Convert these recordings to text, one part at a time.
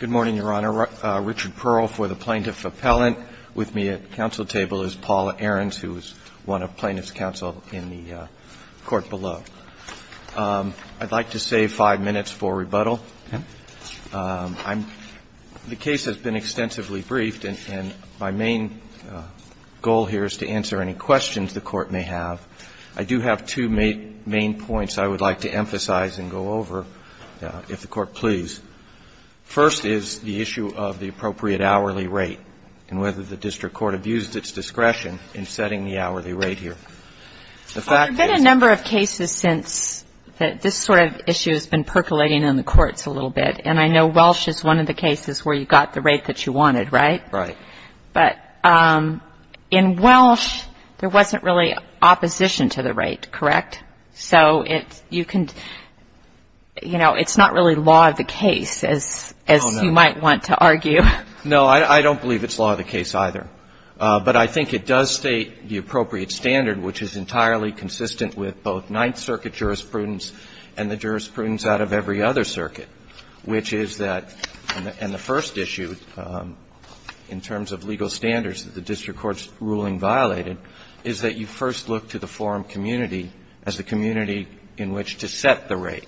Good morning, Your Honor. Richard Pearl for the Plaintiff Appellant. With me at the counsel table is Paula Ahrens, who is one of the plaintiffs' counsel in the court below. I'd like to save five minutes for rebuttal. The case has been extensively briefed, and my main goal here is to answer any questions the Court may have. I do have two main points I would like to emphasize and go over, if the Court please. First is the issue of the appropriate hourly rate and whether the district court abused its discretion in setting the hourly rate here. The fact is that There have been a number of cases since that this sort of issue has been percolating in the courts a little bit. And I know Welsh is one of the cases where you got the opposition to the rate, correct? So you can, you know, it's not really law of the case, as you might want to argue. No, I don't believe it's law of the case either. But I think it does state the appropriate standard, which is entirely consistent with both Ninth Circuit jurisprudence and the jurisprudence out of every other circuit, which is that in the first issue in terms of legal standards that the district court's ruling violated, is that you first look to the forum community as the community in which to set the rate.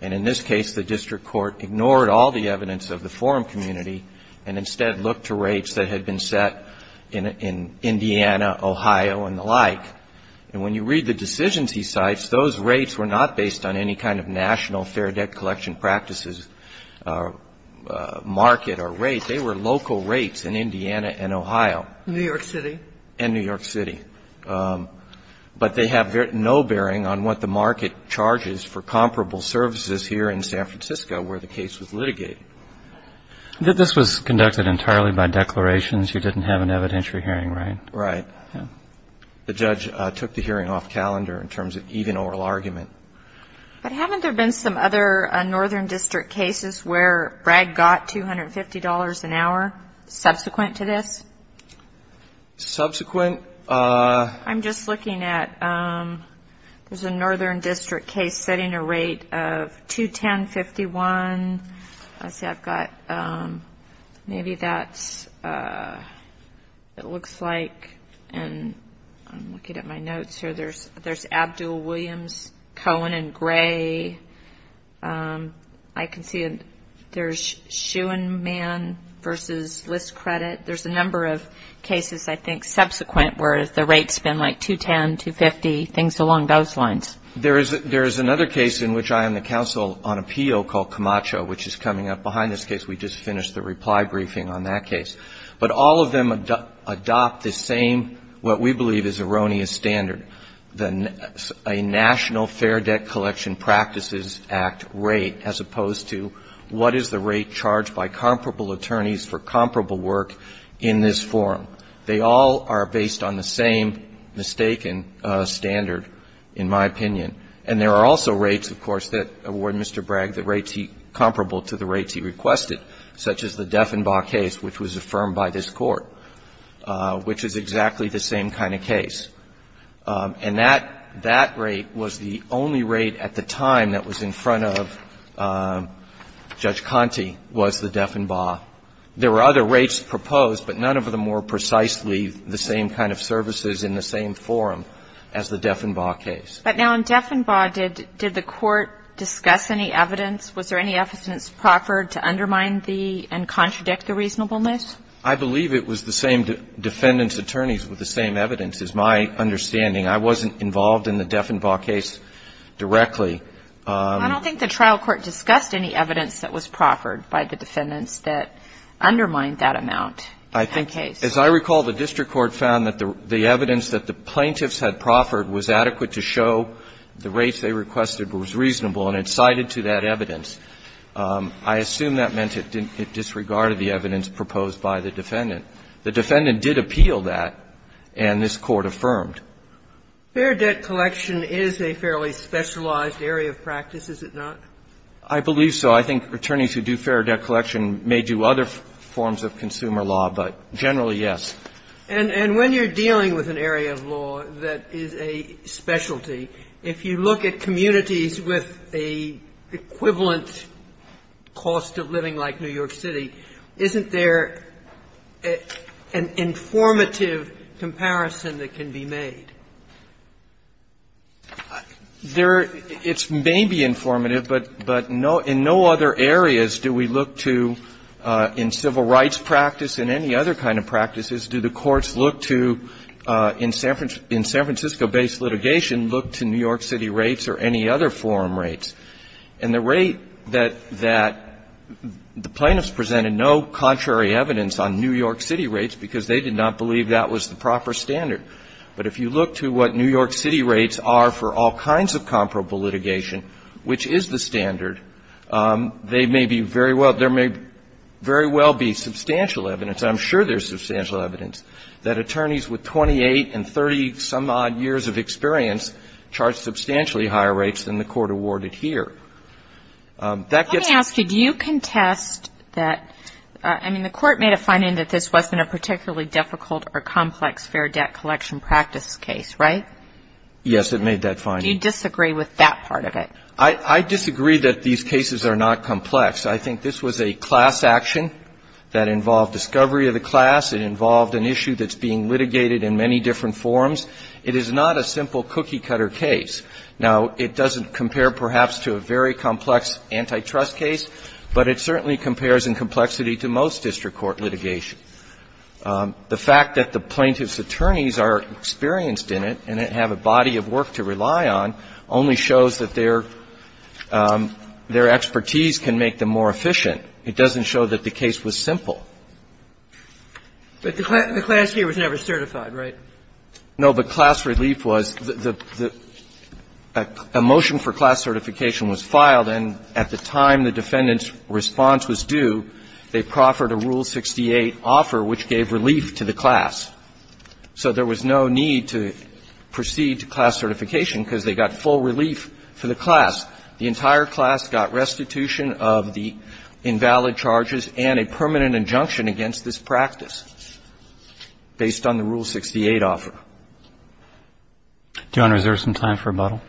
And in this case, the district court ignored all the evidence of the forum community and instead looked to rates that had been set in Indiana, Ohio, and the like. And when you read the decisions he cites, those rates were not based on any kind of national fair debt collection practices or market or rate. They were local rates in Indiana and Ohio. New York City. And New York City. But they have no bearing on what the market charges for comparable services here in San Francisco where the case was litigated. This was conducted entirely by declarations. You didn't have an evidentiary hearing, right? Right. The judge took the hearing off calendar in terms of even oral argument. But haven't there been some other northern district cases where Bragg got $250 an hour subsequent to this? Subsequent? I'm just looking at there's a northern district case setting a rate of $210.51. Let's see, I've got maybe that's what it looks like. And I'm looking at my notes here. There's Abdul, Williams, Cohen, and Gray. I can see there's Schuman versus list credit. There's a number of cases, I think, subsequent where the rate's been like $210, $250, things along those lines. There is another case in which I am the counsel on appeal called Camacho, which is coming up behind this case. We just finished the reply briefing on that case. But all of them adopt the same what we believe is erroneous standard. A national fair debt collection practices act rate as opposed to what is the rate that is charged by comparable attorneys for comparable work in this forum. They all are based on the same mistaken standard, in my opinion. And there are also rates, of course, that award Mr. Bragg that rates he comparable to the rates he requested, such as the Deffenbach case, which was affirmed by this Court, which is exactly the same kind of case. And that rate was the only rate at the time that was in front of Judge Conte, which was the Deffenbach. There were other rates proposed, but none of them were precisely the same kind of services in the same forum as the Deffenbach case. But now, in Deffenbach, did the Court discuss any evidence? Was there any evidence proffered to undermine the and contradict the reasonableness? I believe it was the same defendant's attorneys with the same evidence, is my understanding. I wasn't involved in the Deffenbach case directly. I don't think the trial court discussed any evidence that was proffered by the defendants that undermined that amount in that case. As I recall, the district court found that the evidence that the plaintiffs had proffered was adequate to show the rates they requested was reasonable, and it cited to that evidence. I assume that meant it disregarded the evidence proposed by the defendant. The defendant did appeal that, and this Court affirmed. Fair debt collection is a fairly specialized area of practice, is it not? I believe so. I think attorneys who do fair debt collection may do other forms of consumer law, but generally, yes. And when you're dealing with an area of law that is a specialty, if you look at communities with an equivalent cost of living like New York City, isn't there an informative comparison that can be made? There are. It may be informative, but in no other areas do we look to, in civil rights practice and any other kind of practices, do the courts look to, in San Francisco-based litigation, look to New York City rates or any other forum rates. And the rate that the plaintiffs presented no contrary evidence on New York City rates because they did not believe that was the proper standard. But if you look to what New York City rates are for all kinds of comparable litigation, which is the standard, they may be very well, there may very well be substantial evidence, I'm sure there's substantial evidence, that attorneys with 28 and 30-some-odd years of experience charge substantially higher rates than the Court awarded here. Let me ask you, do you contest that, I mean, the Court made a finding that this wasn't a particularly difficult or complex fair debt collection practice case, right? Yes, it made that finding. Do you disagree with that part of it? I disagree that these cases are not complex. I think this was a class action that involved discovery of the class. It involved an issue that's being litigated in many different forums. It is not a simple cookie-cutter case. Now, it doesn't compare, perhaps, to a very complex antitrust case, but it certainly compares in complexity to most district court litigation. The fact that the plaintiff's attorneys are experienced in it and have a body of work to rely on only shows that their expertise can make them more efficient. It doesn't show that the case was simple. But the class here was never certified, right? No, but class relief was. A motion for class certification was filed, and at the time the defendant's response was due, they proffered a Rule 68 offer which gave relief to the class. So there was no need to proceed to class certification because they got full relief for the class. The entire class got restitution of the invalid charges and a permanent injunction against this practice based on the Rule 68 offer. Do you want to reserve some time for rebuttal?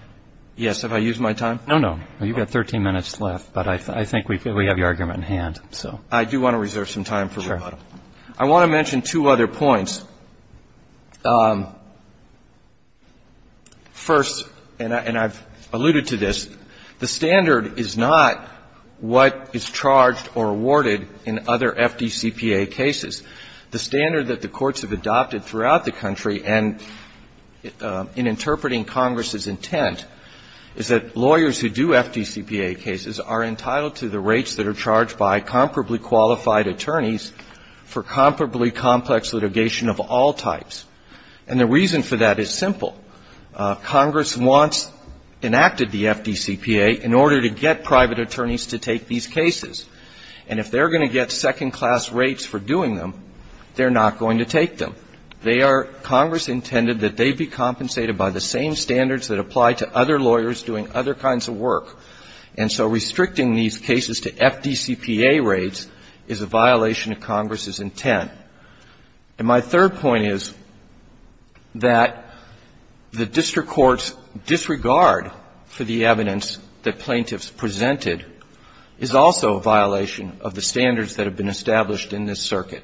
Yes. Have I used my time? No, no. You've got 13 minutes left, but I think we have your argument in hand, so. I do want to reserve some time for rebuttal. Sure. I want to mention two other points. First, and I've alluded to this, the standard is not what is charged or awarded in other FDCPA cases. The standard that the courts have adopted throughout the country and in interpreting Congress's intent is that lawyers who do FDCPA cases are entitled to the rates that are charged by comparably qualified attorneys for comparably complex litigation of all types. And the reason for that is simple. Congress wants, enacted the FDCPA in order to get private attorneys to take these cases. And if they're going to get second-class rates for doing them, they're not going to take them. They are, Congress intended that they be compensated by the same standards that apply to other lawyers doing other kinds of work. And so restricting these cases to FDCPA rates is a violation of Congress's intent. And my third point is that the district court's disregard for the evidence that plaintiffs presented is also a violation of the standards that have been established in this circuit.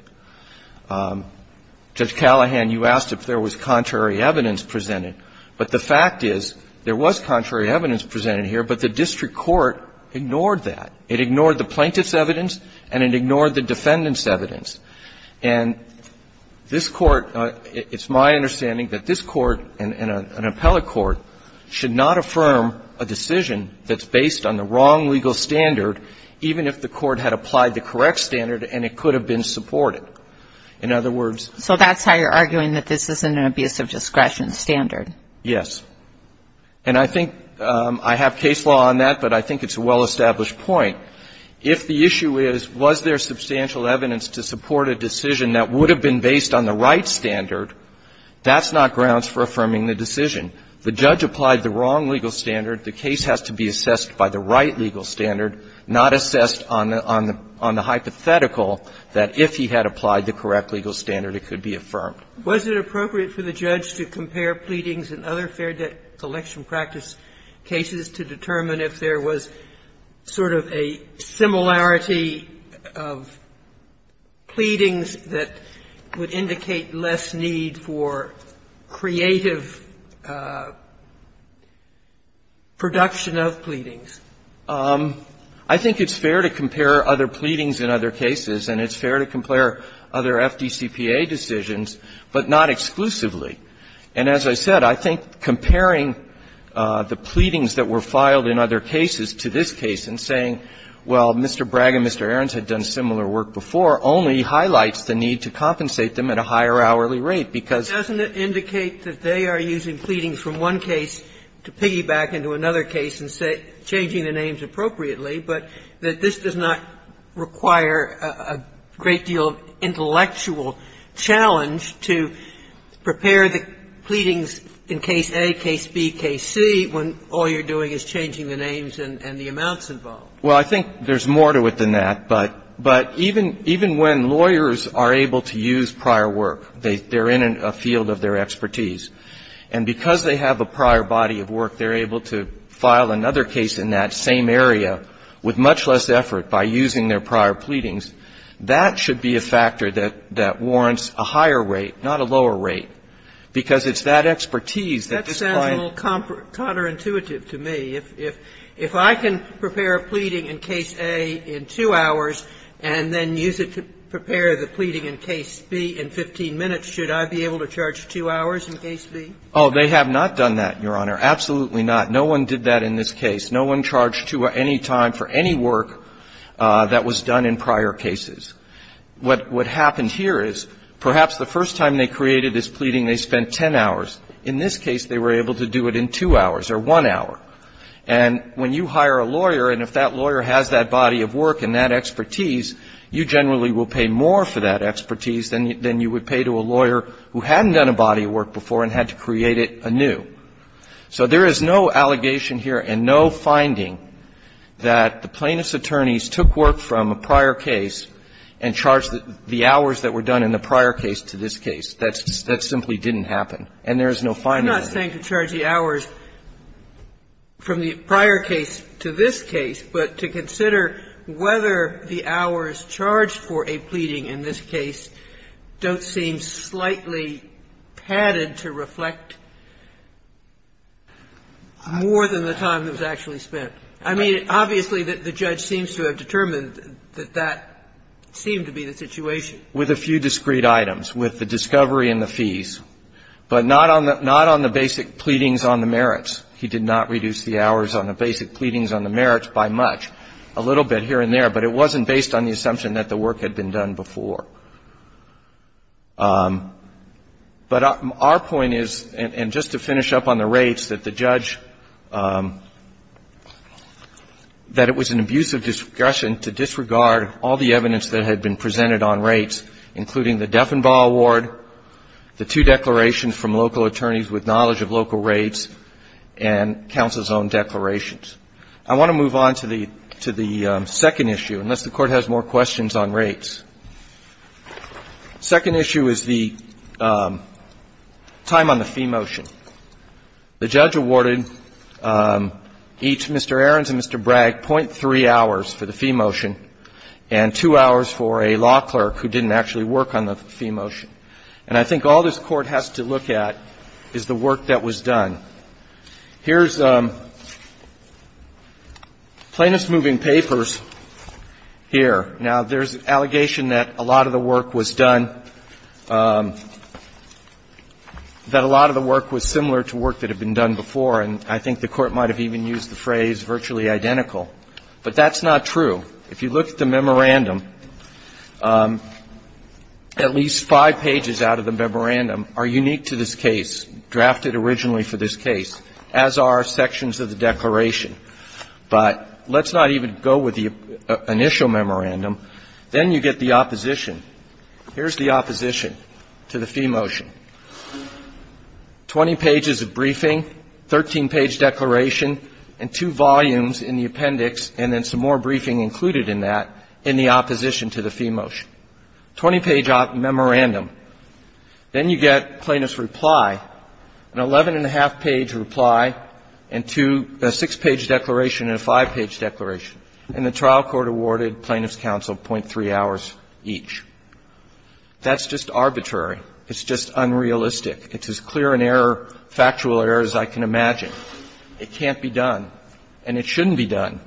Judge Callahan, you asked if there was contrary evidence presented. But the fact is there was contrary evidence presented here, but the district court ignored that. It ignored the plaintiff's evidence and it ignored the defendant's evidence. And this Court, it's my understanding that this Court and an appellate court should not affirm a decision that's based on the wrong legal standard, even if the court had applied the correct standard and it could have been supported. In other words ---- So that's how you're arguing that this isn't an abuse of discretion standard? Yes. And I think I have case law on that, but I think it's a well-established point. If the issue is, was there substantial evidence to support a decision that would have been based on the right standard, that's not grounds for affirming the decision. The judge applied the wrong legal standard. The case has to be assessed by the right legal standard, not assessed on the hypothetical that if he had applied the correct legal standard it could be affirmed. Was it appropriate for the judge to compare pleadings in other fair debt collection practice cases to determine if there was sort of a similarity of pleadings that would have been used in the production of pleadings? I think it's fair to compare other pleadings in other cases, and it's fair to compare other FDCPA decisions, but not exclusively. And as I said, I think comparing the pleadings that were filed in other cases to this case and saying, well, Mr. Bragg and Mr. Ahrens had done similar work before only highlights the need to compensate them at a higher hourly rate, because ---- Sotomayor, I don't want to go from one case to piggyback into another case and say changing the names appropriately, but that this does not require a great deal of intellectual challenge to prepare the pleadings in case A, case B, case C when all you're doing is changing the names and the amounts involved. Well, I think there's more to it than that. But even when lawyers are able to use prior work, they're in a field of their expertise. And because they have a prior body of work, they're able to file another case in that same area with much less effort by using their prior pleadings. That should be a factor that warrants a higher rate, not a lower rate, because it's that expertise that this client ---- That sounds a little counterintuitive to me. If I can prepare a pleading in case A in 2 hours and then use it to prepare the pleading in case B in 15 minutes, should I be able to charge 2 hours in case B? Oh, they have not done that, Your Honor, absolutely not. No one did that in this case. No one charged 2 or any time for any work that was done in prior cases. What happened here is perhaps the first time they created this pleading, they spent 10 hours. In this case, they were able to do it in 2 hours or 1 hour. And when you hire a lawyer, and if that lawyer has that body of work and that expertise, you generally will pay more for that expertise than you would pay to a lawyer who hadn't done a body of work before and had to create it anew. So there is no allegation here and no finding that the plaintiff's attorneys took work from a prior case and charged the hours that were done in the prior case to this case. That simply didn't happen. And there is no finding of that. I'm not saying to charge the hours from the prior case to this case, but to consider whether the hours charged for a pleading in this case don't seem slightly padded to reflect more than the time that was actually spent. I mean, obviously, the judge seems to have determined that that seemed to be the situation. With a few discrete items, with the discovery and the fees, but not on the basic pleadings on the merits. He did not reduce the hours on the basic pleadings on the merits by much. A little bit here and there, but it wasn't based on the assumption that the work had been done before. But our point is, and just to finish up on the rates, that the judge, that it was an abusive discussion to disregard all the evidence that had been presented on rates, including the Defenbaugh award, the two declarations from local attorneys with knowledge of local rates, and counsel's own declarations. I want to move on to the second issue, unless the Court has more questions on rates. The second issue is the time on the fee motion. The judge awarded each, Mr. Ahrens and Mr. Bragg, .3 hours for the fee motion and 2 hours for a law clerk who didn't actually work on the fee motion. And I think all this Court has to look at is the work that was done. Here's plaintiff's moving papers here. Now, there's an allegation that a lot of the work was done, that a lot of the work was similar to work that had been done before, and I think the Court might have even used the phrase virtually identical. But that's not true. If you look at the memorandum, at least five pages out of the memorandum are unique to this case, drafted originally for this case, as are sections of the declaration. But let's not even go with the initial memorandum. Then you get the opposition. Here's the opposition to the fee motion. Twenty pages of briefing, 13-page declaration, and two volumes in the appendix, and then some more briefing included in that in the opposition to the fee motion. Twenty-page memorandum. Then you get plaintiff's reply, an 11-and-a-half-page reply, and two, a six-page declaration and a five-page declaration. And the trial court awarded plaintiff's counsel 0.3 hours each. That's just arbitrary. It's just unrealistic. It's as clear an error, factual error, as I can imagine. It can't be done, and it shouldn't be done.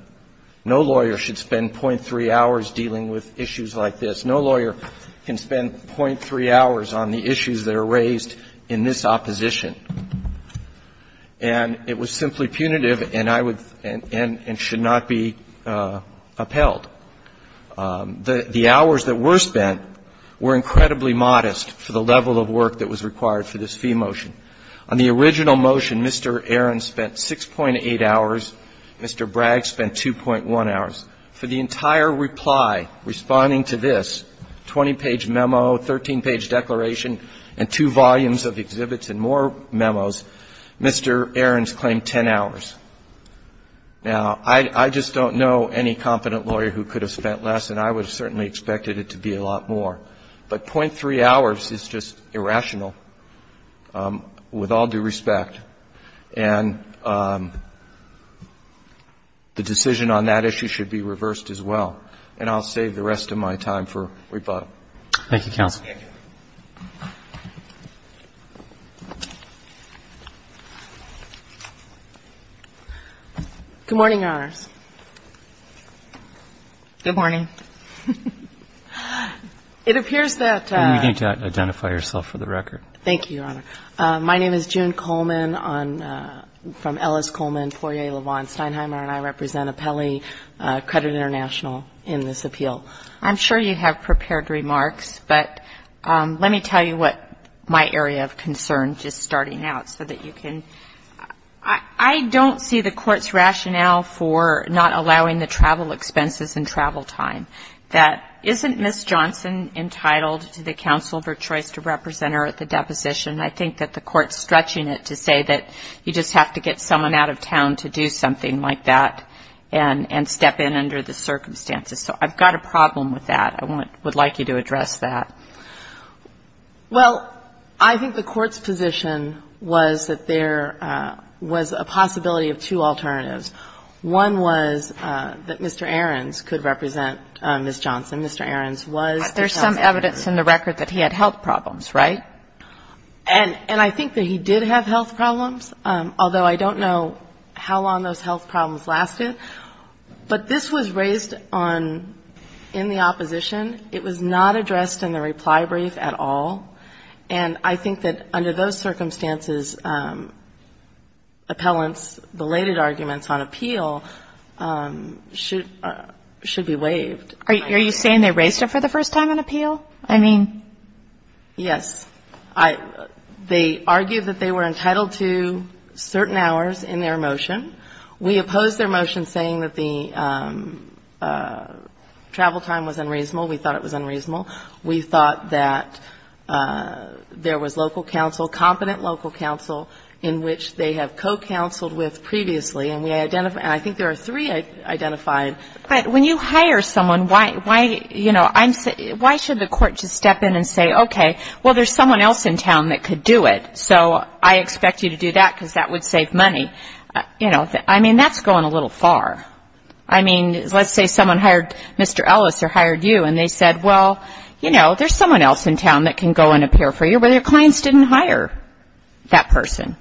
No lawyer should spend 0.3 hours dealing with issues like this. No lawyer can spend 0.3 hours on the issues that are raised in this opposition. And it was simply punitive, and I would and should not be upheld. The hours that were spent were incredibly modest for the level of work that was required for this fee motion. On the original motion, Mr. Aaron spent 6.8 hours. Mr. Bragg spent 2.1 hours. For the entire reply, responding to this, 20-page memo, 13-page declaration, and two volumes of exhibits and more memos, Mr. Aaron's claimed 10 hours. Now, I just don't know any competent lawyer who could have spent less, and I would have certainly expected it to be a lot more. But 0.3 hours is just irrational, with all due respect. And the decision on that issue should be reversed as well. And I'll save the rest of my time for rebuttal. Roberts. Thank you, counsel. Good morning, Your Honors. Good morning. It appears that you need to identify yourself for the record. Thank you, Your Honor. My name is June Coleman. I'm from Ellis Coleman, Poirier, LaVaughn, Steinheimer, and I represent Apelli Credit International in this appeal. I'm sure you have prepared remarks, but let me tell you what my area of concern, just starting out, so that you can – I don't see the Court's rationale for not allowing the travel expenses and travel time. That isn't Ms. Johnson entitled to the counsel of her choice to represent her at the deposition. I think that the Court's stretching it to say that you just have to get someone out of town to do something like that and step in under the circumstances. So I've got a problem with that. I would like you to address that. Well, I think the Court's position was that there was a possibility of two alternatives. One was that Mr. Ahrens could represent Ms. Johnson. Mr. Ahrens was the counsel. There's some evidence in the record that he had health problems, right? And I think that he did have health problems, although I don't know how long those health problems lasted. But this was raised in the opposition. It was not addressed in the reply brief at all. And I think that under those circumstances, appellants' belated arguments on appeal should be waived. Are you saying they raised it for the first time in appeal? I mean yes. They argued that they were entitled to certain hours in their motion. We opposed their motion saying that the travel time was unreasonable. We thought it was unreasonable. We thought that there was local counsel, competent local counsel in which they have co-counseled with previously. And I think there are three identified. But when you hire someone, why should the court just step in and say, okay, well, there's someone else in town that could do it. So I expect you to do that because that would save money. I mean, that's going a little far. I mean, let's say someone hired Mr. Ellis or hired you and they said, well, you know, there's someone else in town that can go and appear for you, but your clients didn't hire that person.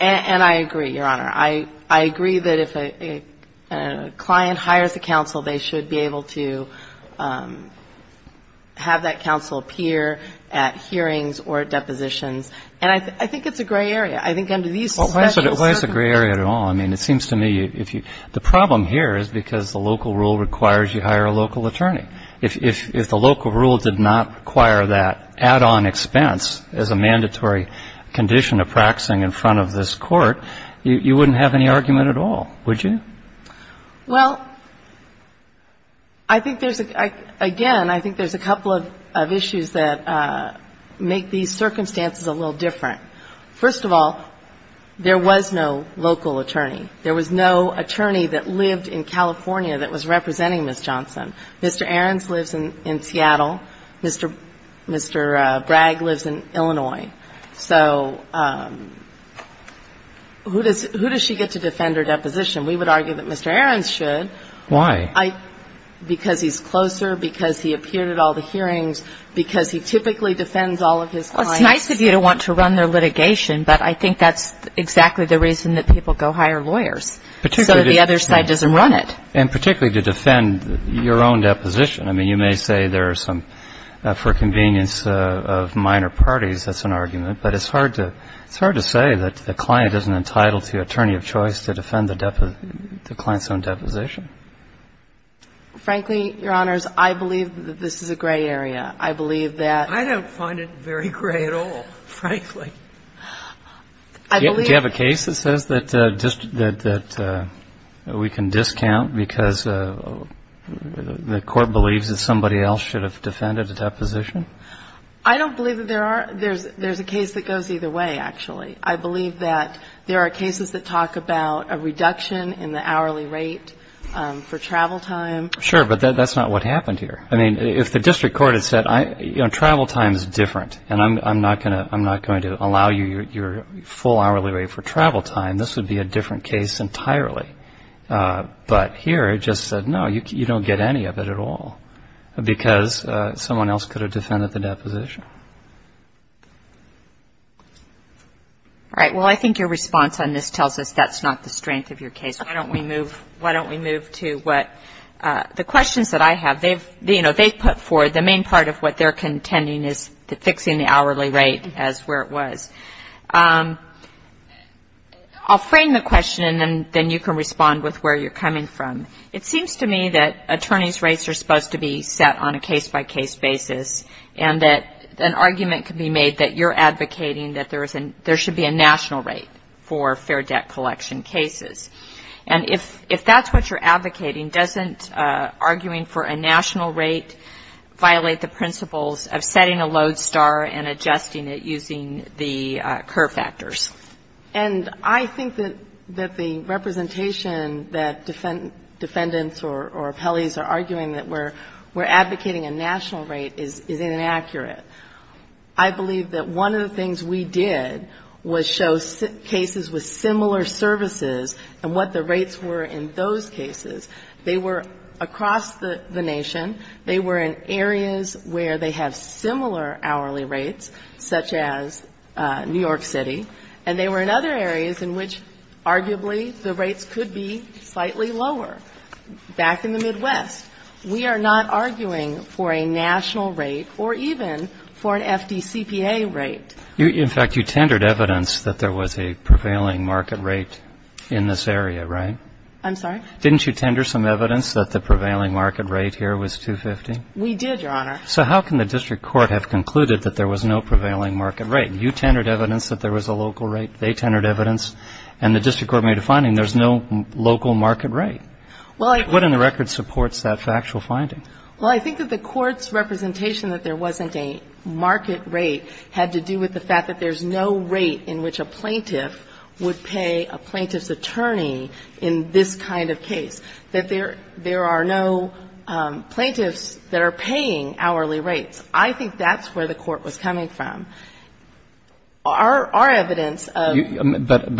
And I agree, Your Honor. I agree that if a client hires a counsel, they should be able to have that counsel appear at hearings or at depositions. And I think it's a gray area. I think under these suspections, certainly. Well, why is it a gray area at all? I mean, it seems to me if you the problem here is because the local rule requires you hire a local attorney. If the local rule did not require that add-on expense as a mandatory condition of practicing in front of this court, you wouldn't have any argument at all, would you? Well, I think there's, again, I think there's a couple of issues that make these circumstances a little different. First of all, there was no local attorney. There was no attorney that lived in California that was representing Ms. Johnson. Mr. Ahrens lives in Seattle. Mr. Bragg lives in Illinois. So who does she get to defend her deposition? We would argue that Mr. Ahrens should. Why? Because he's closer, because he appeared at all the hearings, because he typically defends all of his clients. It's nice of you to want to run their litigation, but I think that's exactly the reason that people go hire lawyers, so that the other side doesn't run it. And particularly to defend your own deposition. I mean, you may say there are some, for convenience of minor parties, that's an argument. But it's hard to say that the client isn't entitled to attorney of choice to defend the client's own deposition. Frankly, Your Honors, I believe that this is a gray area. I believe that ---- I don't find it very gray at all, frankly. I believe ---- Do you have a case that says that we can discount because the court believes that somebody else should have defended the deposition? I don't believe that there are. There's a case that goes either way, actually. I believe that there are cases that talk about a reduction in the hourly rate for travel time. Sure, but that's not what happened here. I mean, if the district court had said, you know, travel time is different, and I'm not going to allow you your full hourly rate for travel time, this would be a different case entirely. But here, it just said, no, you don't get any of it at all because someone else could have defended the deposition. All right. Well, I think your response on this tells us that's not the strength of your case. Why don't we move to what the questions that I have, you know, they've put forward, the main part of what they're contending is fixing the hourly rate as where it was. I'll frame the question, and then you can respond with where you're coming from. It seems to me that attorney's rates are supposed to be set on a case-by-case basis, and that an argument can be made that you're advocating that there should be a national rate for fair debt collection cases. And if that's what you're advocating, doesn't arguing for a national rate violate the principles of setting a load star and adjusting it using the curve factors? And I think that the representation that defendants or appellees are arguing that we're advocating a national rate is inaccurate. I believe that one of the things we did was show cases with similar services and what the rates were in those cases. They were across the nation, they were in areas where they have similar hourly rates, such as New York City, and they were in other areas in which arguably the rates could be slightly lower. Back in the Midwest, we are not arguing for a national rate or even for an FDCPA rate. In fact, you tendered evidence that there was a prevailing market rate in this area, right? I'm sorry? Didn't you tender some evidence that the prevailing market rate here was 250? We did, Your Honor. So how can the district court have concluded that there was no prevailing market rate? You tendered evidence that there was a local rate, they tendered evidence, and the district court made a finding there's no local market rate. What in the record supports that factual finding? Well, I think that the court's representation that there wasn't a market rate had to do with the fact that there's no rate in which a plaintiff would pay a plaintiff's case, that there are no plaintiffs that are paying hourly rates. I think that's where the court was coming from. the fact that there's no rate in which a plaintiff would pay a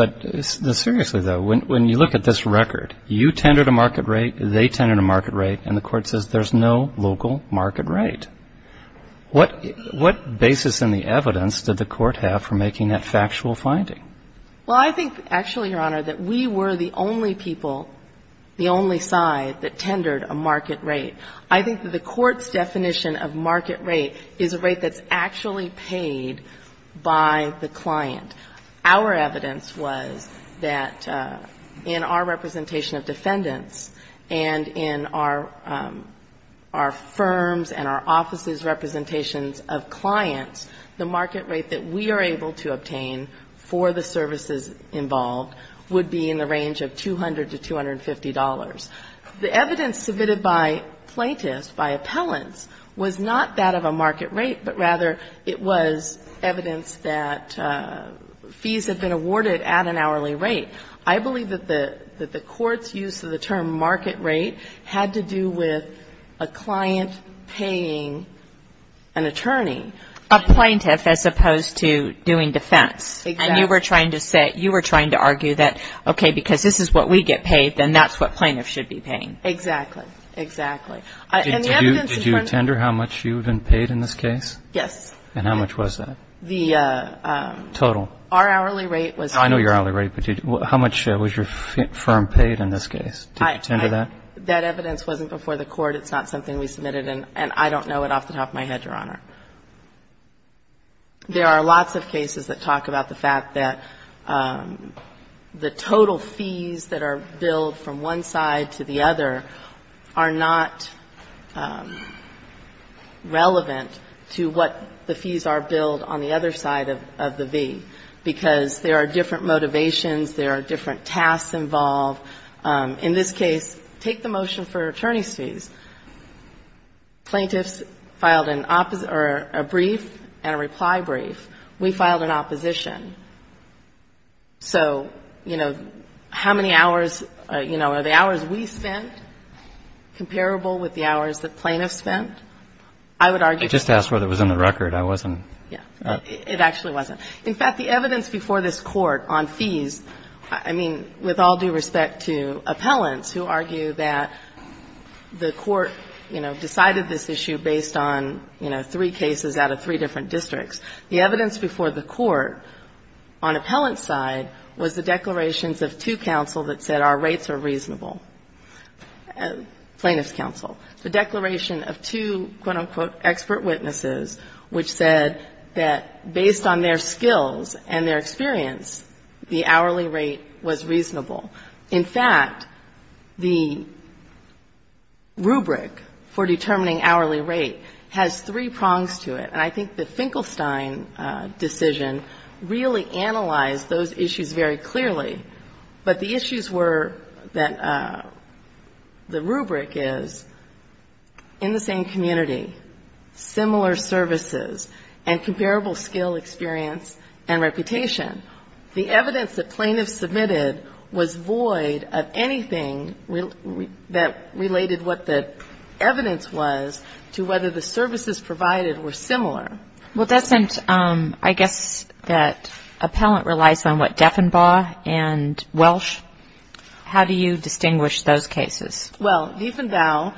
plaintiff's case. But seriously, though, when you look at this record, you tendered a market rate, they tendered a market rate, and the court says there's no local market rate. What basis in the evidence did the court have for making that factual finding? Well, I think actually, Your Honor, that we were the only people, the only side that tendered a market rate. I think that the court's definition of market rate is a rate that's actually paid by the client. Our evidence was that in our representation of defendants and in our firms and our offices' representations of clients, the market rate that we are able to obtain for the services involved would be in the range of $200 to $250. The evidence submitted by plaintiffs, by appellants, was not that of a market rate, but rather it was evidence that fees had been awarded at an hourly rate. I believe that the court's use of the term market rate had to do with a client paying an attorney. A plaintiff as opposed to doing defense. Exactly. And you were trying to say, you were trying to argue that, okay, because this is what we get paid, then that's what plaintiffs should be paying. Exactly. Exactly. And the evidence in front of us Did you tender how much you had been paid in this case? Yes. And how much was that? The total. Our hourly rate was I know your hourly rate, but how much was your firm paid in this case? Did you tender that? That evidence wasn't before the court. It's not something we submitted, and I don't know it off the top of my head, Your Honor. There are lots of cases that talk about the fact that the total fees that are billed from one side to the other are not relevant to what the fees are billed on the other side of the V, because there are different motivations, there are different tasks involved. In this case, take the motion for attorney's fees. Plaintiffs filed a brief and a reply brief. We filed an opposition. So, you know, how many hours, you know, are the hours we spent comparable with the hours that plaintiffs spent? I would argue I just asked whether it was in the record. I wasn't It actually wasn't. In fact, the evidence before this Court on fees, I mean, with all due respect to appellants who argue that the Court, you know, decided this issue based on, you know, three cases out of three different districts. The evidence before the Court on appellant side was the declarations of two counsel that said our rates are reasonable. Plaintiffs' counsel. The declaration of two, quote, unquote, expert witnesses, which said that based on their skills and their experience, the hourly rate was reasonable. In fact, the rubric for determining hourly rate has three prongs to it. And I think the Finkelstein decision really analyzed those issues very clearly. But the issues were that the rubric is in the same community, similar services and comparable skill experience and reputation. The evidence that plaintiffs submitted was void of anything that related what the evidence was to whether the services provided were similar. Well, doesn't, I guess, that appellant relies on what, Defenbaugh and Welsh? How do you distinguish those cases? Well, Defenbaugh,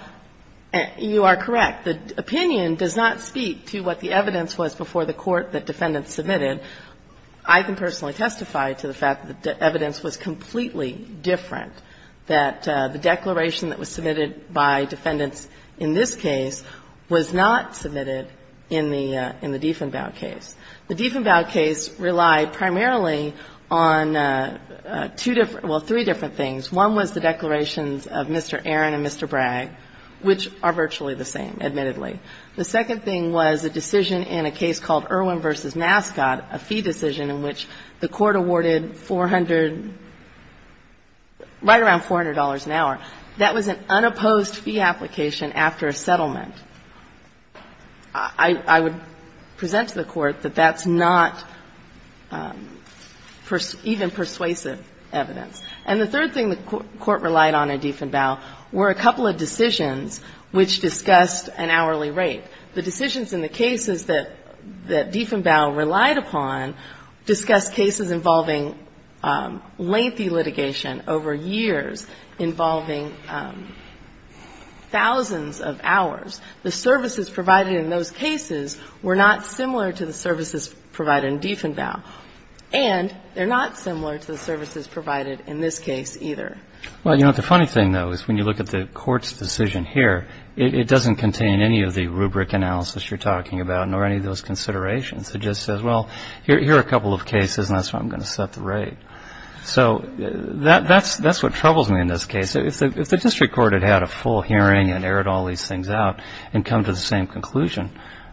you are correct. The opinion does not speak to what the evidence was before the Court that defendants submitted. I can personally testify to the fact that the evidence was completely different, that the declaration that was submitted by defendants in this case was not submitted in the Defenbaugh case. The Defenbaugh case relied primarily on two different or three different things. One was the declarations of Mr. Aaron and Mr. Bragg, which are virtually the same, admittedly. The second thing was a decision in a case called Irwin v. Nascot, a fee decision in which the Court awarded 400, right around $400 an hour. That was an unopposed fee application after a settlement. I would present to the Court that that's not even persuasive evidence. And the third thing the Court relied on in Defenbaugh were a couple of decisions which discussed an hourly rate. The decisions in the cases that Defenbaugh relied upon discussed cases involving lengthy litigation over years, involving thousands of hours. The services provided in those cases were not similar to the services provided in Defenbaugh. And they're not similar to the services provided in this case, either. Well, you know, the funny thing, though, is when you look at the Court's decision here, it doesn't contain any of the rubric analysis you're talking about, nor any of those considerations. It just says, well, here are a couple of cases, and that's how I'm going to set the rate. So that's what troubles me in this case. If the district court had had a full hearing and errored all these things out and come to the same conclusion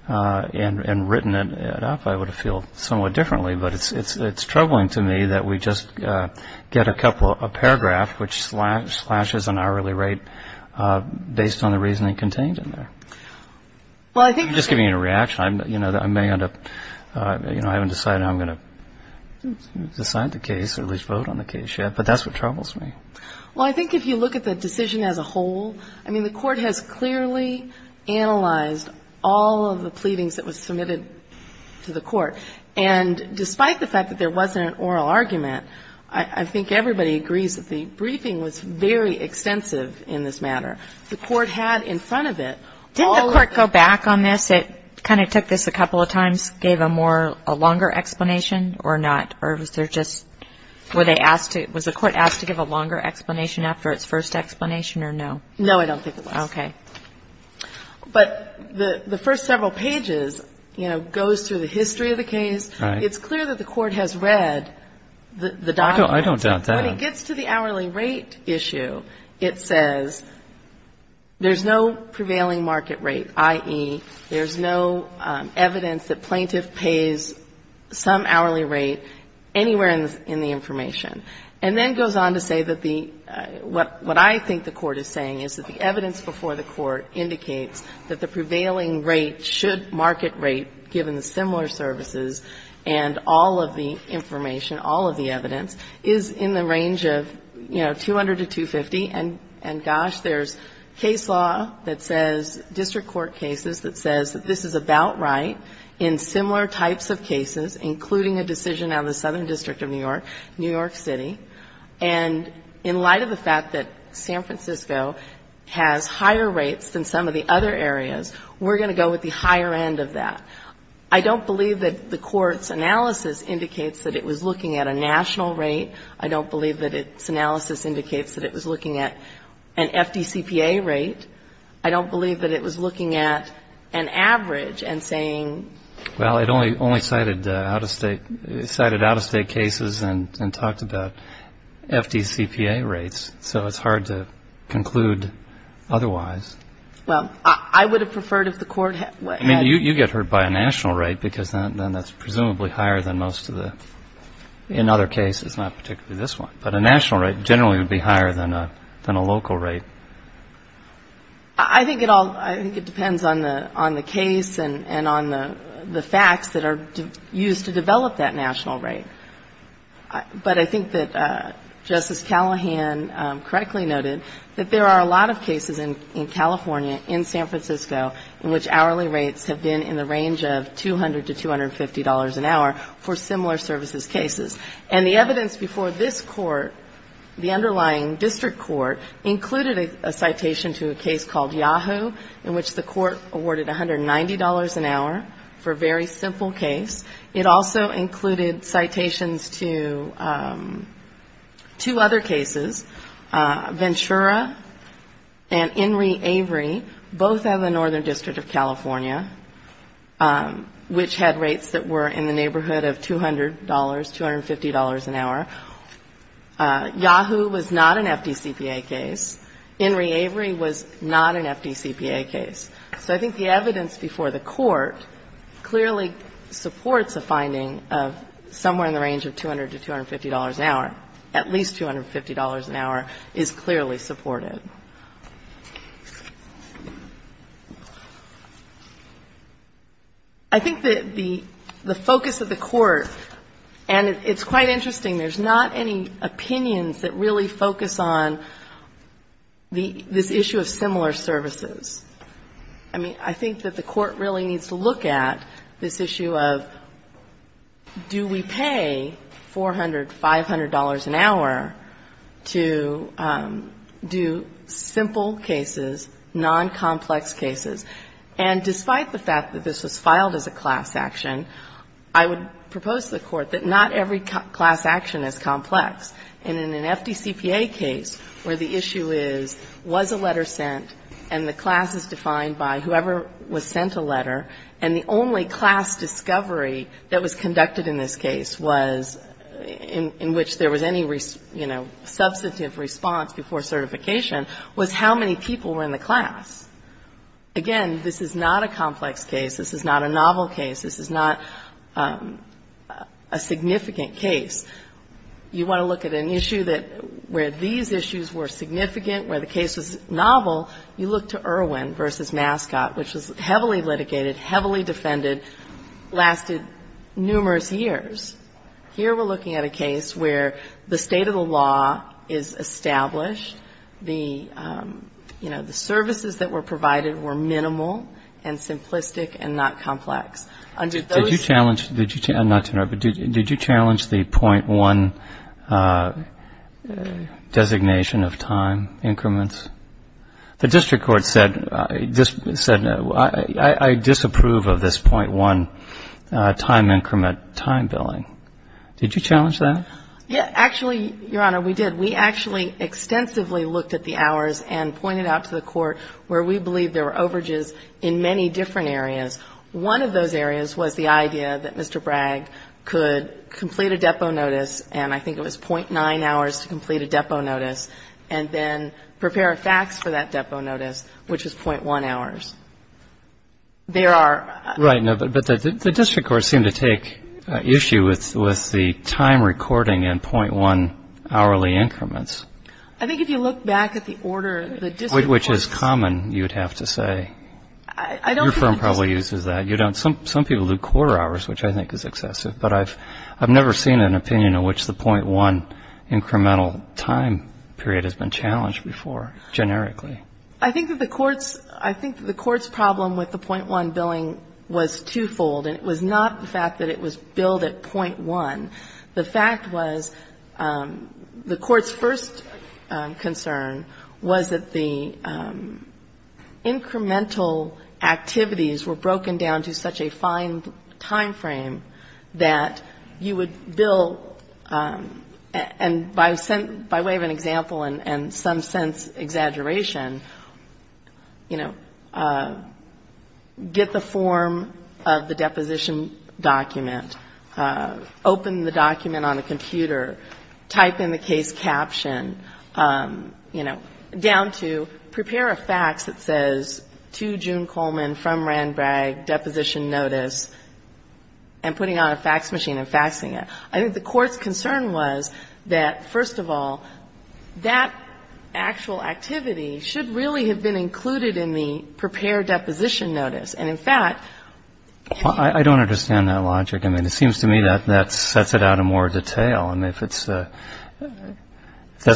and written it up, I would have felt somewhat differently. But it's troubling to me that we just get a paragraph which slashes an hourly rate based on the reasoning contained in there. I'm just giving you a reaction. I may end up, you know, I haven't decided how I'm going to decide the case or at least vote on the case yet. But that's what troubles me. Well, I think if you look at the decision as a whole, I mean, the Court has clearly analyzed all of the pleadings that were submitted to the district court. And despite the fact that there wasn't an oral argument, I think everybody agrees that the briefing was very extensive in this matter. The Court had in front of it all of the... Didn't the Court go back on this? It kind of took this a couple of times, gave a more, a longer explanation or not? Or was there just, were they asked to, was the Court asked to give a longer explanation after its first explanation or no? No, I don't think it was. Okay. But the first several pages, you know, goes through the history of the case. Right. It's clear that the Court has read the document. I don't doubt that. When it gets to the hourly rate issue, it says there's no prevailing market rate, i.e., there's no evidence that plaintiff pays some hourly rate anywhere in the information. And then goes on to say that the, what I think the Court is saying is that the evidence before the Court indicates that the prevailing rate should market rate, given the similar services and all of the information, all of the evidence, is in the range of, you know, 200 to 250. And gosh, there's case law that says, district court cases that says that this is about right in similar types of cases, including a decision on the Southern District of New York, New York City. And in light of the fact that San Francisco has higher rates than some of the other areas, we're going to go with the higher end of that. I don't believe that the Court's analysis indicates that it was looking at a national rate. I don't believe that its analysis indicates that it was looking at an FDCPA rate. I don't believe that it was looking at an average and saying ---- FDCPA rates. So it's hard to conclude otherwise. Well, I would have preferred if the Court had ---- I mean, you get hurt by a national rate because then that's presumably higher than most of the, in other cases, not particularly this one. But a national rate generally would be higher than a local rate. I think it all, I think it depends on the case and on the facts that are used to develop that national rate. But I think that Justice Callahan correctly noted that there are a lot of cases in California, in San Francisco, in which hourly rates have been in the range of $200 to $250 an hour for similar services cases. And the evidence before this Court, the underlying district court, included a citation to a case called Yahoo!, in which the Court awarded $190 an hour for a very simple case. It also included citations to two other cases, Ventura and Enri Avery, both out of the Northern District of California, which had rates that were in the neighborhood of $200, $250 an hour. Yahoo! was not an FDCPA case. Enri Avery was not an FDCPA case. So I think the evidence before the Court clearly supports a finding of somewhere in the range of $200 to $250 an hour. At least $250 an hour is clearly supported. I think that the focus of the Court, and it's quite interesting, there's not any opinions that really focus on this issue of similar services. I mean, I think that the Court really needs to look at this issue of do we pay $400, $500 an hour to do simple cases, non-complex cases. And despite the fact that this was filed as a class action, I would propose to the Court that not every class action is complex. And in an FDCPA case where the issue is, was a letter sent, and the class is defined by whoever was sent a letter, and the only class discovery that was conducted in this case was, in which there was any, you know, substantive response before certification, was how many people were in the class. Again, this is not a complex case. This is not a novel case. This is not a significant case. You want to look at an issue that, where these issues were significant, where the case was novel, you look to Irwin v. Mascot, which was heavily litigated, heavily defended, lasted numerous years. Here we're looking at a case where the state of the law is established. The, you know, the services that were provided were minimal and simplistic and not complex. Did you challenge, not to interrupt, but did you challenge the .1 designation of time increments? The district court said, I disapprove of this .1 time increment time billing. Did you challenge that? Yeah. Actually, Your Honor, we did. We actually extensively looked at the hours and pointed out to the Court where we believe there were overages in many different areas. One of those areas was the idea that Mr. Bragg could complete a depot notice, and I think it was .9 hours to complete a depot notice, and then prepare a fax for that depot notice, which was .1 hours. There are other issues. Right. No, but the district courts seem to take issue with the time recording in .1 hourly increments. I think if you look back at the order, the district courts. Which is common, you would have to say. Your firm probably uses that. You don't. Some people do quarter hours, which I think is excessive. But I've never seen an opinion in which the .1 incremental time period has been challenged before, generically. I think that the Court's problem with the .1 billing was twofold, and it was not the fact that it was billed at .1. The fact was the Court's first concern was that the incremental activities were broken down to such a fine timeframe that you would bill, and by way of an example and some sense exaggeration, you know, get the form of the deposition document, open the document on a computer, type in the case caption, you know, down to prepare a fax that says to June Coleman from Randbragg, deposition notice, and putting on a fax machine and faxing it. I think the Court's concern was that, first of all, that actual activity should really have been included in the prepared deposition notice. And, in fact, can you ---- I don't understand that logic. I mean, it seems to me that that sets it out in more detail. I mean, if that's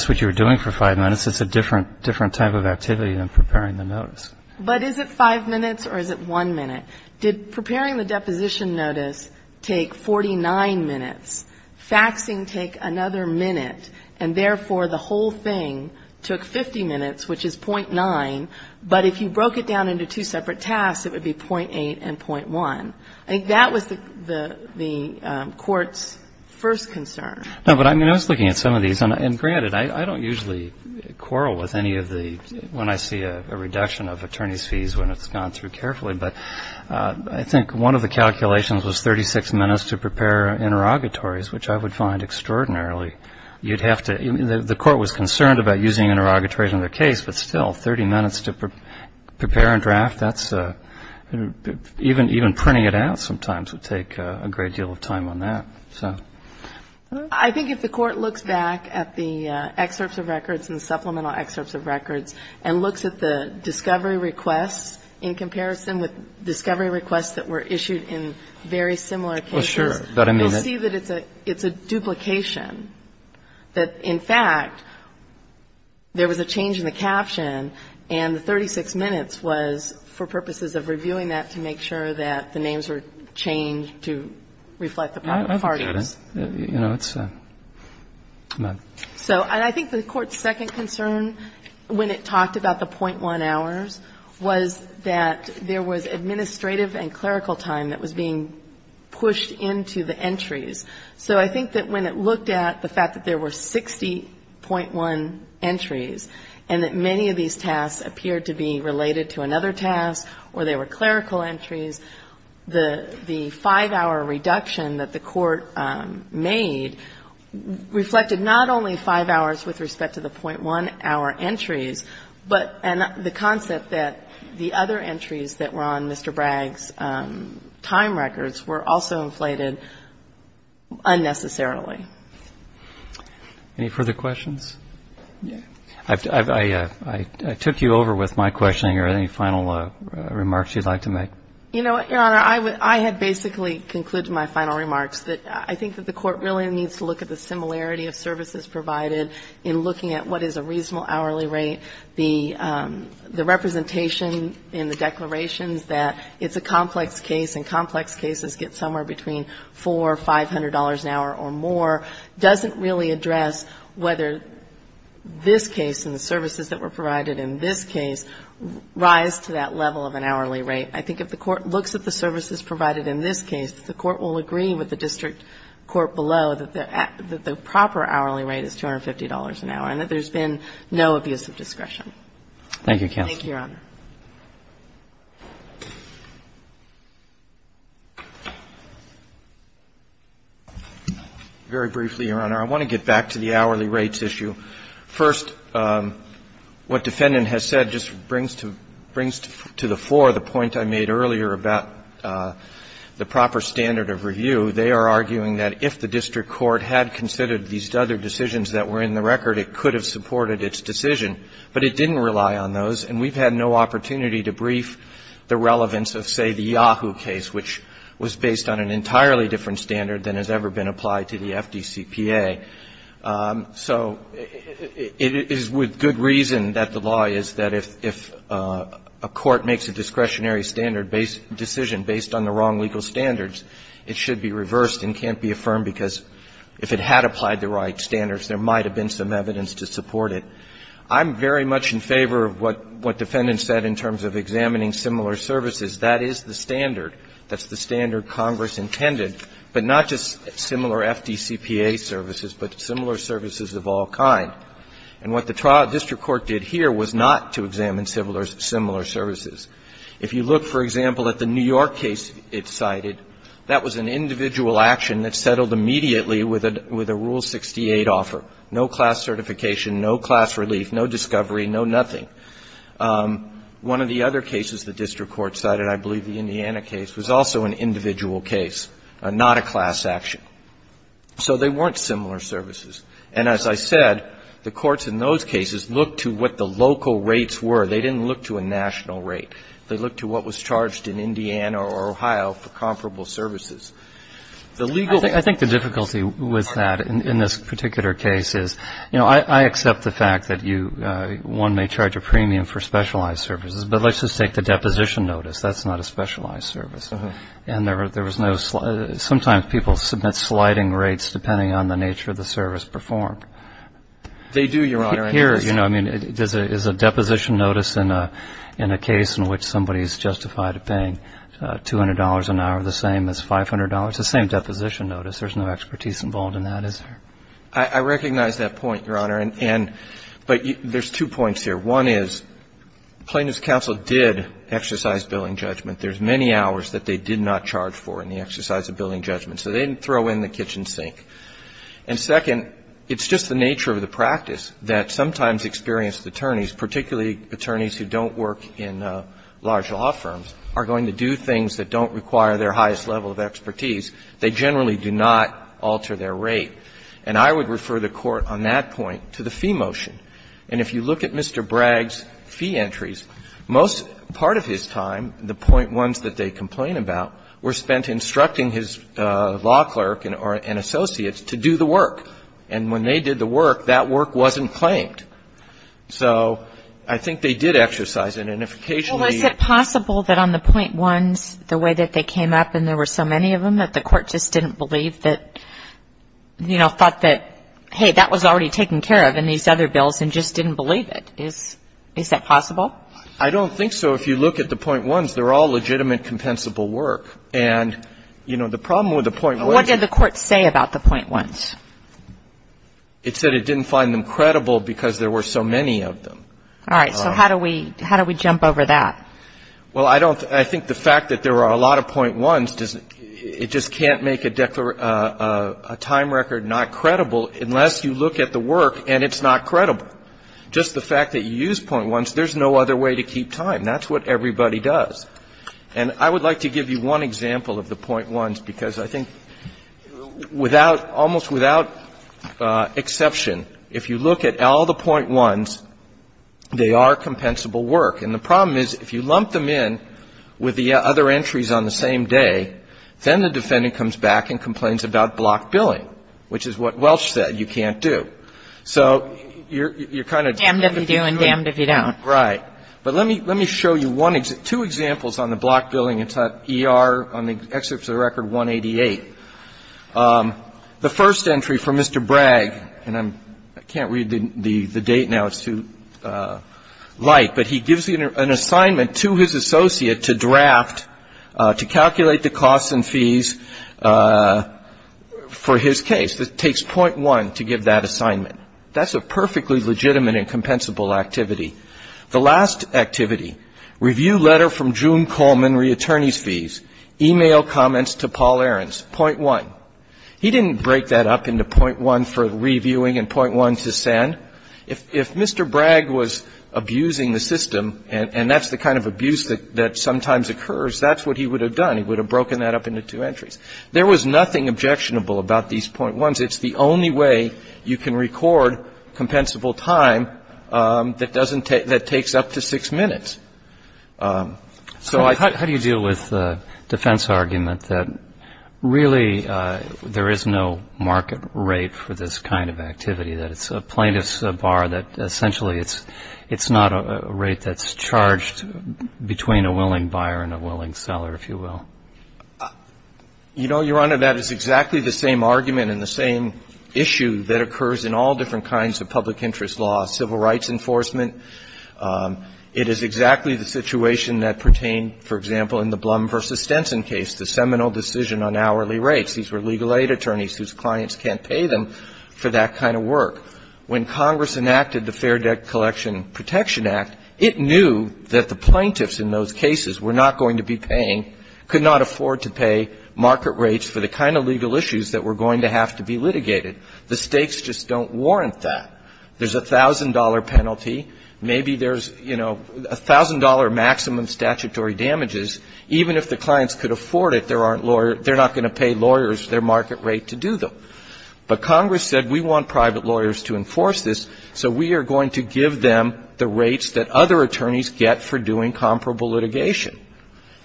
what you were doing for five minutes, it's a different type of activity than preparing the notice. But is it five minutes or is it one minute? Did preparing the deposition notice take 49 minutes, faxing take another minute, and therefore the whole thing took 50 minutes, which is .9, but if you broke it down into two separate tasks, it would be .8 and .1. I think that was the Court's first concern. No, but I mean, I was looking at some of these. And, granted, I don't usually quarrel with any of the ---- when I see a reduction of attorneys' fees when it's gone through carefully, but I think one of the calculations was 36 minutes to prepare interrogatories, which I would find extraordinarily ---- you'd have to ---- the Court was concerned about using interrogatories in their case, but still, 30 minutes to prepare a draft, that's a ---- even printing it out sometimes would take a great deal of time on that. So ---- I think if the Court looks back at the excerpts of records and supplemental excerpts of records and looks at the discovery requests in comparison with discovery requests that were issued in very similar cases, you'll see that it's a duplication, that, in fact, there was a change in the caption and the 36 minutes was for purposes of reviewing that to make sure that the names were changed to reflect the parties. I think that is ---- you know, it's a ---- So I think the Court's second concern when it talked about the .1 hours was that there was administrative and clerical time that was being pushed into the entries. So I think that when it looked at the fact that there were 60.1 entries and that many of these tasks appeared to be related to another task or they were clerical entries, the 5-hour reduction that the Court made reflected not only 5 hours with respect to the .1-hour entries, but the concept that the other entries that were on Mr. Bragg's time records were also inflated unnecessarily. Any further questions? I took you over with my questioning. Are there any final remarks you'd like to make? You know what, Your Honor, I had basically concluded my final remarks that I think that the Court really needs to look at the similarity of services provided in looking at what is a reasonable hourly rate, the representation in the declarations that it's a complex case and complex cases get somewhere between $400, $500 an hour or more, doesn't really address whether this case and the services that were provided in this case rise to that level of an hourly rate. I think if the Court looks at the services provided in this case, the Court will agree with the district court below that the proper hourly rate is $250 an hour and that there's been no abuse of discretion. Thank you, counsel. Thank you, Your Honor. Very briefly, Your Honor, I want to get back to the hourly rates issue. First, what defendant has said just brings to the floor the point I made earlier about the proper standard of review. They are arguing that if the district court had considered these other decisions that were in the record, it could have supported its decision. But it didn't rely on those, and we've had no opportunity to brief the relevance of, say, the Yahoo case, which was based on an entirely different standard than has ever been applied to the FDCPA. So it is with good reason that the law is that if a court makes a discretionary standard-based decision based on the wrong legal standards, it should be reversed and can't be affirmed because if it had applied the right standards, there might have been some evidence to support it. I'm very much in favor of what defendant said in terms of examining similar services. That is the standard. That's the standard Congress intended, but not just similar FDCPA services, but similar services of all kind. And what the district court did here was not to examine similar services. If you look, for example, at the New York case it cited, that was an individual action that settled immediately with a Rule 68 offer, no class certification, no class relief, no discovery, no nothing. One of the other cases the district court cited, I believe the Indiana case, was also an individual case, not a class action. So they weren't similar services. And as I said, the courts in those cases looked to what the local rates were. They didn't look to a national rate. They looked to what was charged in Indiana or Ohio for comparable services. The legal way to do that is to look at what the local rates were. I think the difficulty with that in this particular case is, you know, I accept the fact that you one may charge a premium for specialized services, but let's just take the deposition notice. That's not a specialized service. And there was no slide. Sometimes people submit sliding rates depending on the nature of the service performed. They do, Your Honor. Here, you know, I mean, is a deposition notice in a case in which somebody has justified paying $200 an hour the same as $500? It's the same deposition notice. There's no expertise involved in that, is there? I recognize that point, Your Honor. But there's two points here. One is Plaintiff's counsel did exercise billing judgment. There's many hours that they did not charge for in the exercise of billing judgment. So they didn't throw in the kitchen sink. And second, it's just the nature of the practice that sometimes experienced attorneys, particularly attorneys who don't work in large law firms, are going to do things that don't require their highest level of expertise. They generally do not alter their rate. And I would refer the Court on that point to the fee motion. And if you look at Mr. Bragg's fee entries, most part of his time, the point ones that they complain about, were spent instructing his law clerk and associates to do the work. And when they did the work, that work wasn't claimed. So I think they did exercise it. And if occasionally they didn't. Well, is it possible that on the point ones, the way that they came up and there were so many of them that the Court just didn't believe that, you know, thought that, hey, that was already taken care of in these other bills and just didn't believe it? Is that possible? I don't think so. If you look at the point ones, they're all legitimate, compensable work. And, you know, the problem with the point ones. What did the Court say about the point ones? It said it didn't find them credible because there were so many of them. All right. So how do we jump over that? Well, I don't think the fact that there are a lot of point ones, it just can't make a time record not credible unless you look at the work and it's not credible. Just the fact that you use point ones, there's no other way to keep time. That's what everybody does. And I would like to give you one example of the point ones, because I think without almost without exception, if you look at all the point ones, they are compensable work. And the problem is if you lump them in with the other entries on the same day, then the defendant comes back and complains about block billing, which is what Welch said, you can't do. So you're kind of damned if you do and damned if you don't. Right. But let me show you two examples on the block billing. It's on ER, on the excerpt of the record 188. The first entry from Mr. Bragg, and I can't read the date now, it's too light, but he gives an assignment to his associate to draft, to calculate the costs and fees for his case. It takes point one to give that assignment. That's a perfectly legitimate and compensable activity. The last activity, review letter from June Coleman, reattorney's fees, e-mail comments to Paul Ahrens, point one. He didn't break that up into point one for reviewing and point one to send. If Mr. Bragg was abusing the system, and that's the kind of abuse that sometimes occurs, that's what he would have done. He would have broken that up into two entries. There was nothing objectionable about these point ones. It's the only way you can record compensable time that doesn't take up to six minutes. So I think ---- How do you deal with the defense argument that really there is no market rate for this kind of activity, that it's a plaintiff's bar, that essentially it's not a rate that's charged between a willing buyer and a willing seller, if you will? You know, Your Honor, that is exactly the same argument and the same issue that occurs in all different kinds of public interest law, civil rights enforcement. It is exactly the situation that pertained, for example, in the Blum v. Stenson case, the seminal decision on hourly rates. These were legal aid attorneys whose clients can't pay them for that kind of work. When Congress enacted the Fair Debt Collection Protection Act, it knew that the plaintiffs in those cases were not going to be paying, could not afford to pay market rates for the kind of legal issues that were going to have to be litigated. The stakes just don't warrant that. There's a $1,000 penalty. Maybe there's, you know, $1,000 maximum statutory damages. Even if the clients could afford it, they're not going to pay lawyers their market rate to do them. But Congress said we want private lawyers to enforce this, so we are going to give them the rates that other attorneys get for doing comparable litigation.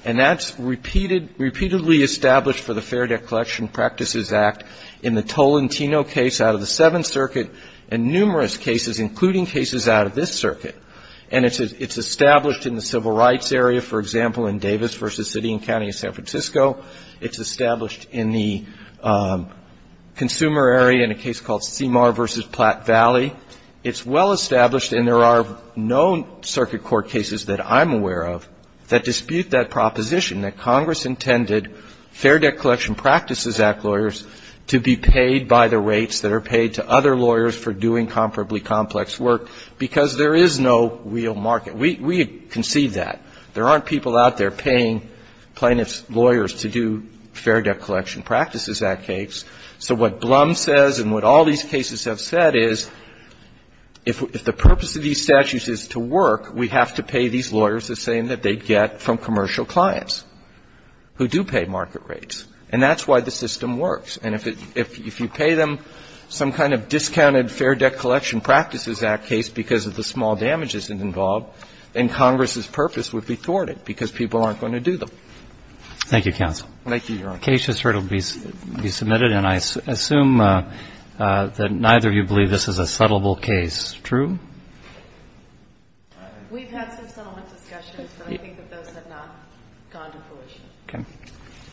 And that's repeatedly established for the Fair Debt Collection Practices Act in the Tolentino case out of the Seventh Circuit and numerous cases, including cases out of this circuit. And it's established in the civil rights area, for example, in Davis v. City and County of San Francisco. It's established in the consumer area in a case called Seymour v. Platte Valley. It's well established, and there are no circuit court cases that I'm aware of that dispute that proposition, that Congress intended Fair Debt Collection Practices Act lawyers to be paid by the rates that are paid to other lawyers for doing comparably complex work, because there is no real market. We concede that. There aren't people out there paying plaintiff's lawyers to do Fair Debt Collection Practices Act cases. So what Blum says and what all these cases have said is if the purpose of these statutes is to work, we have to pay these lawyers the same that they get from commercial clients who do pay market rates. And that's why the system works. And if you pay them some kind of discounted Fair Debt Collection Practices Act case because of the small damages involved, then Congress's purpose would be thwarted because people aren't going to do them. Roberts. Thank you, counsel. Thank you, Your Honor. The case has heard it will be submitted, and I assume that neither of you believe this is a settlable case. True? We've had some settlement discussions, but I think that those have not gone to fruition. Okay.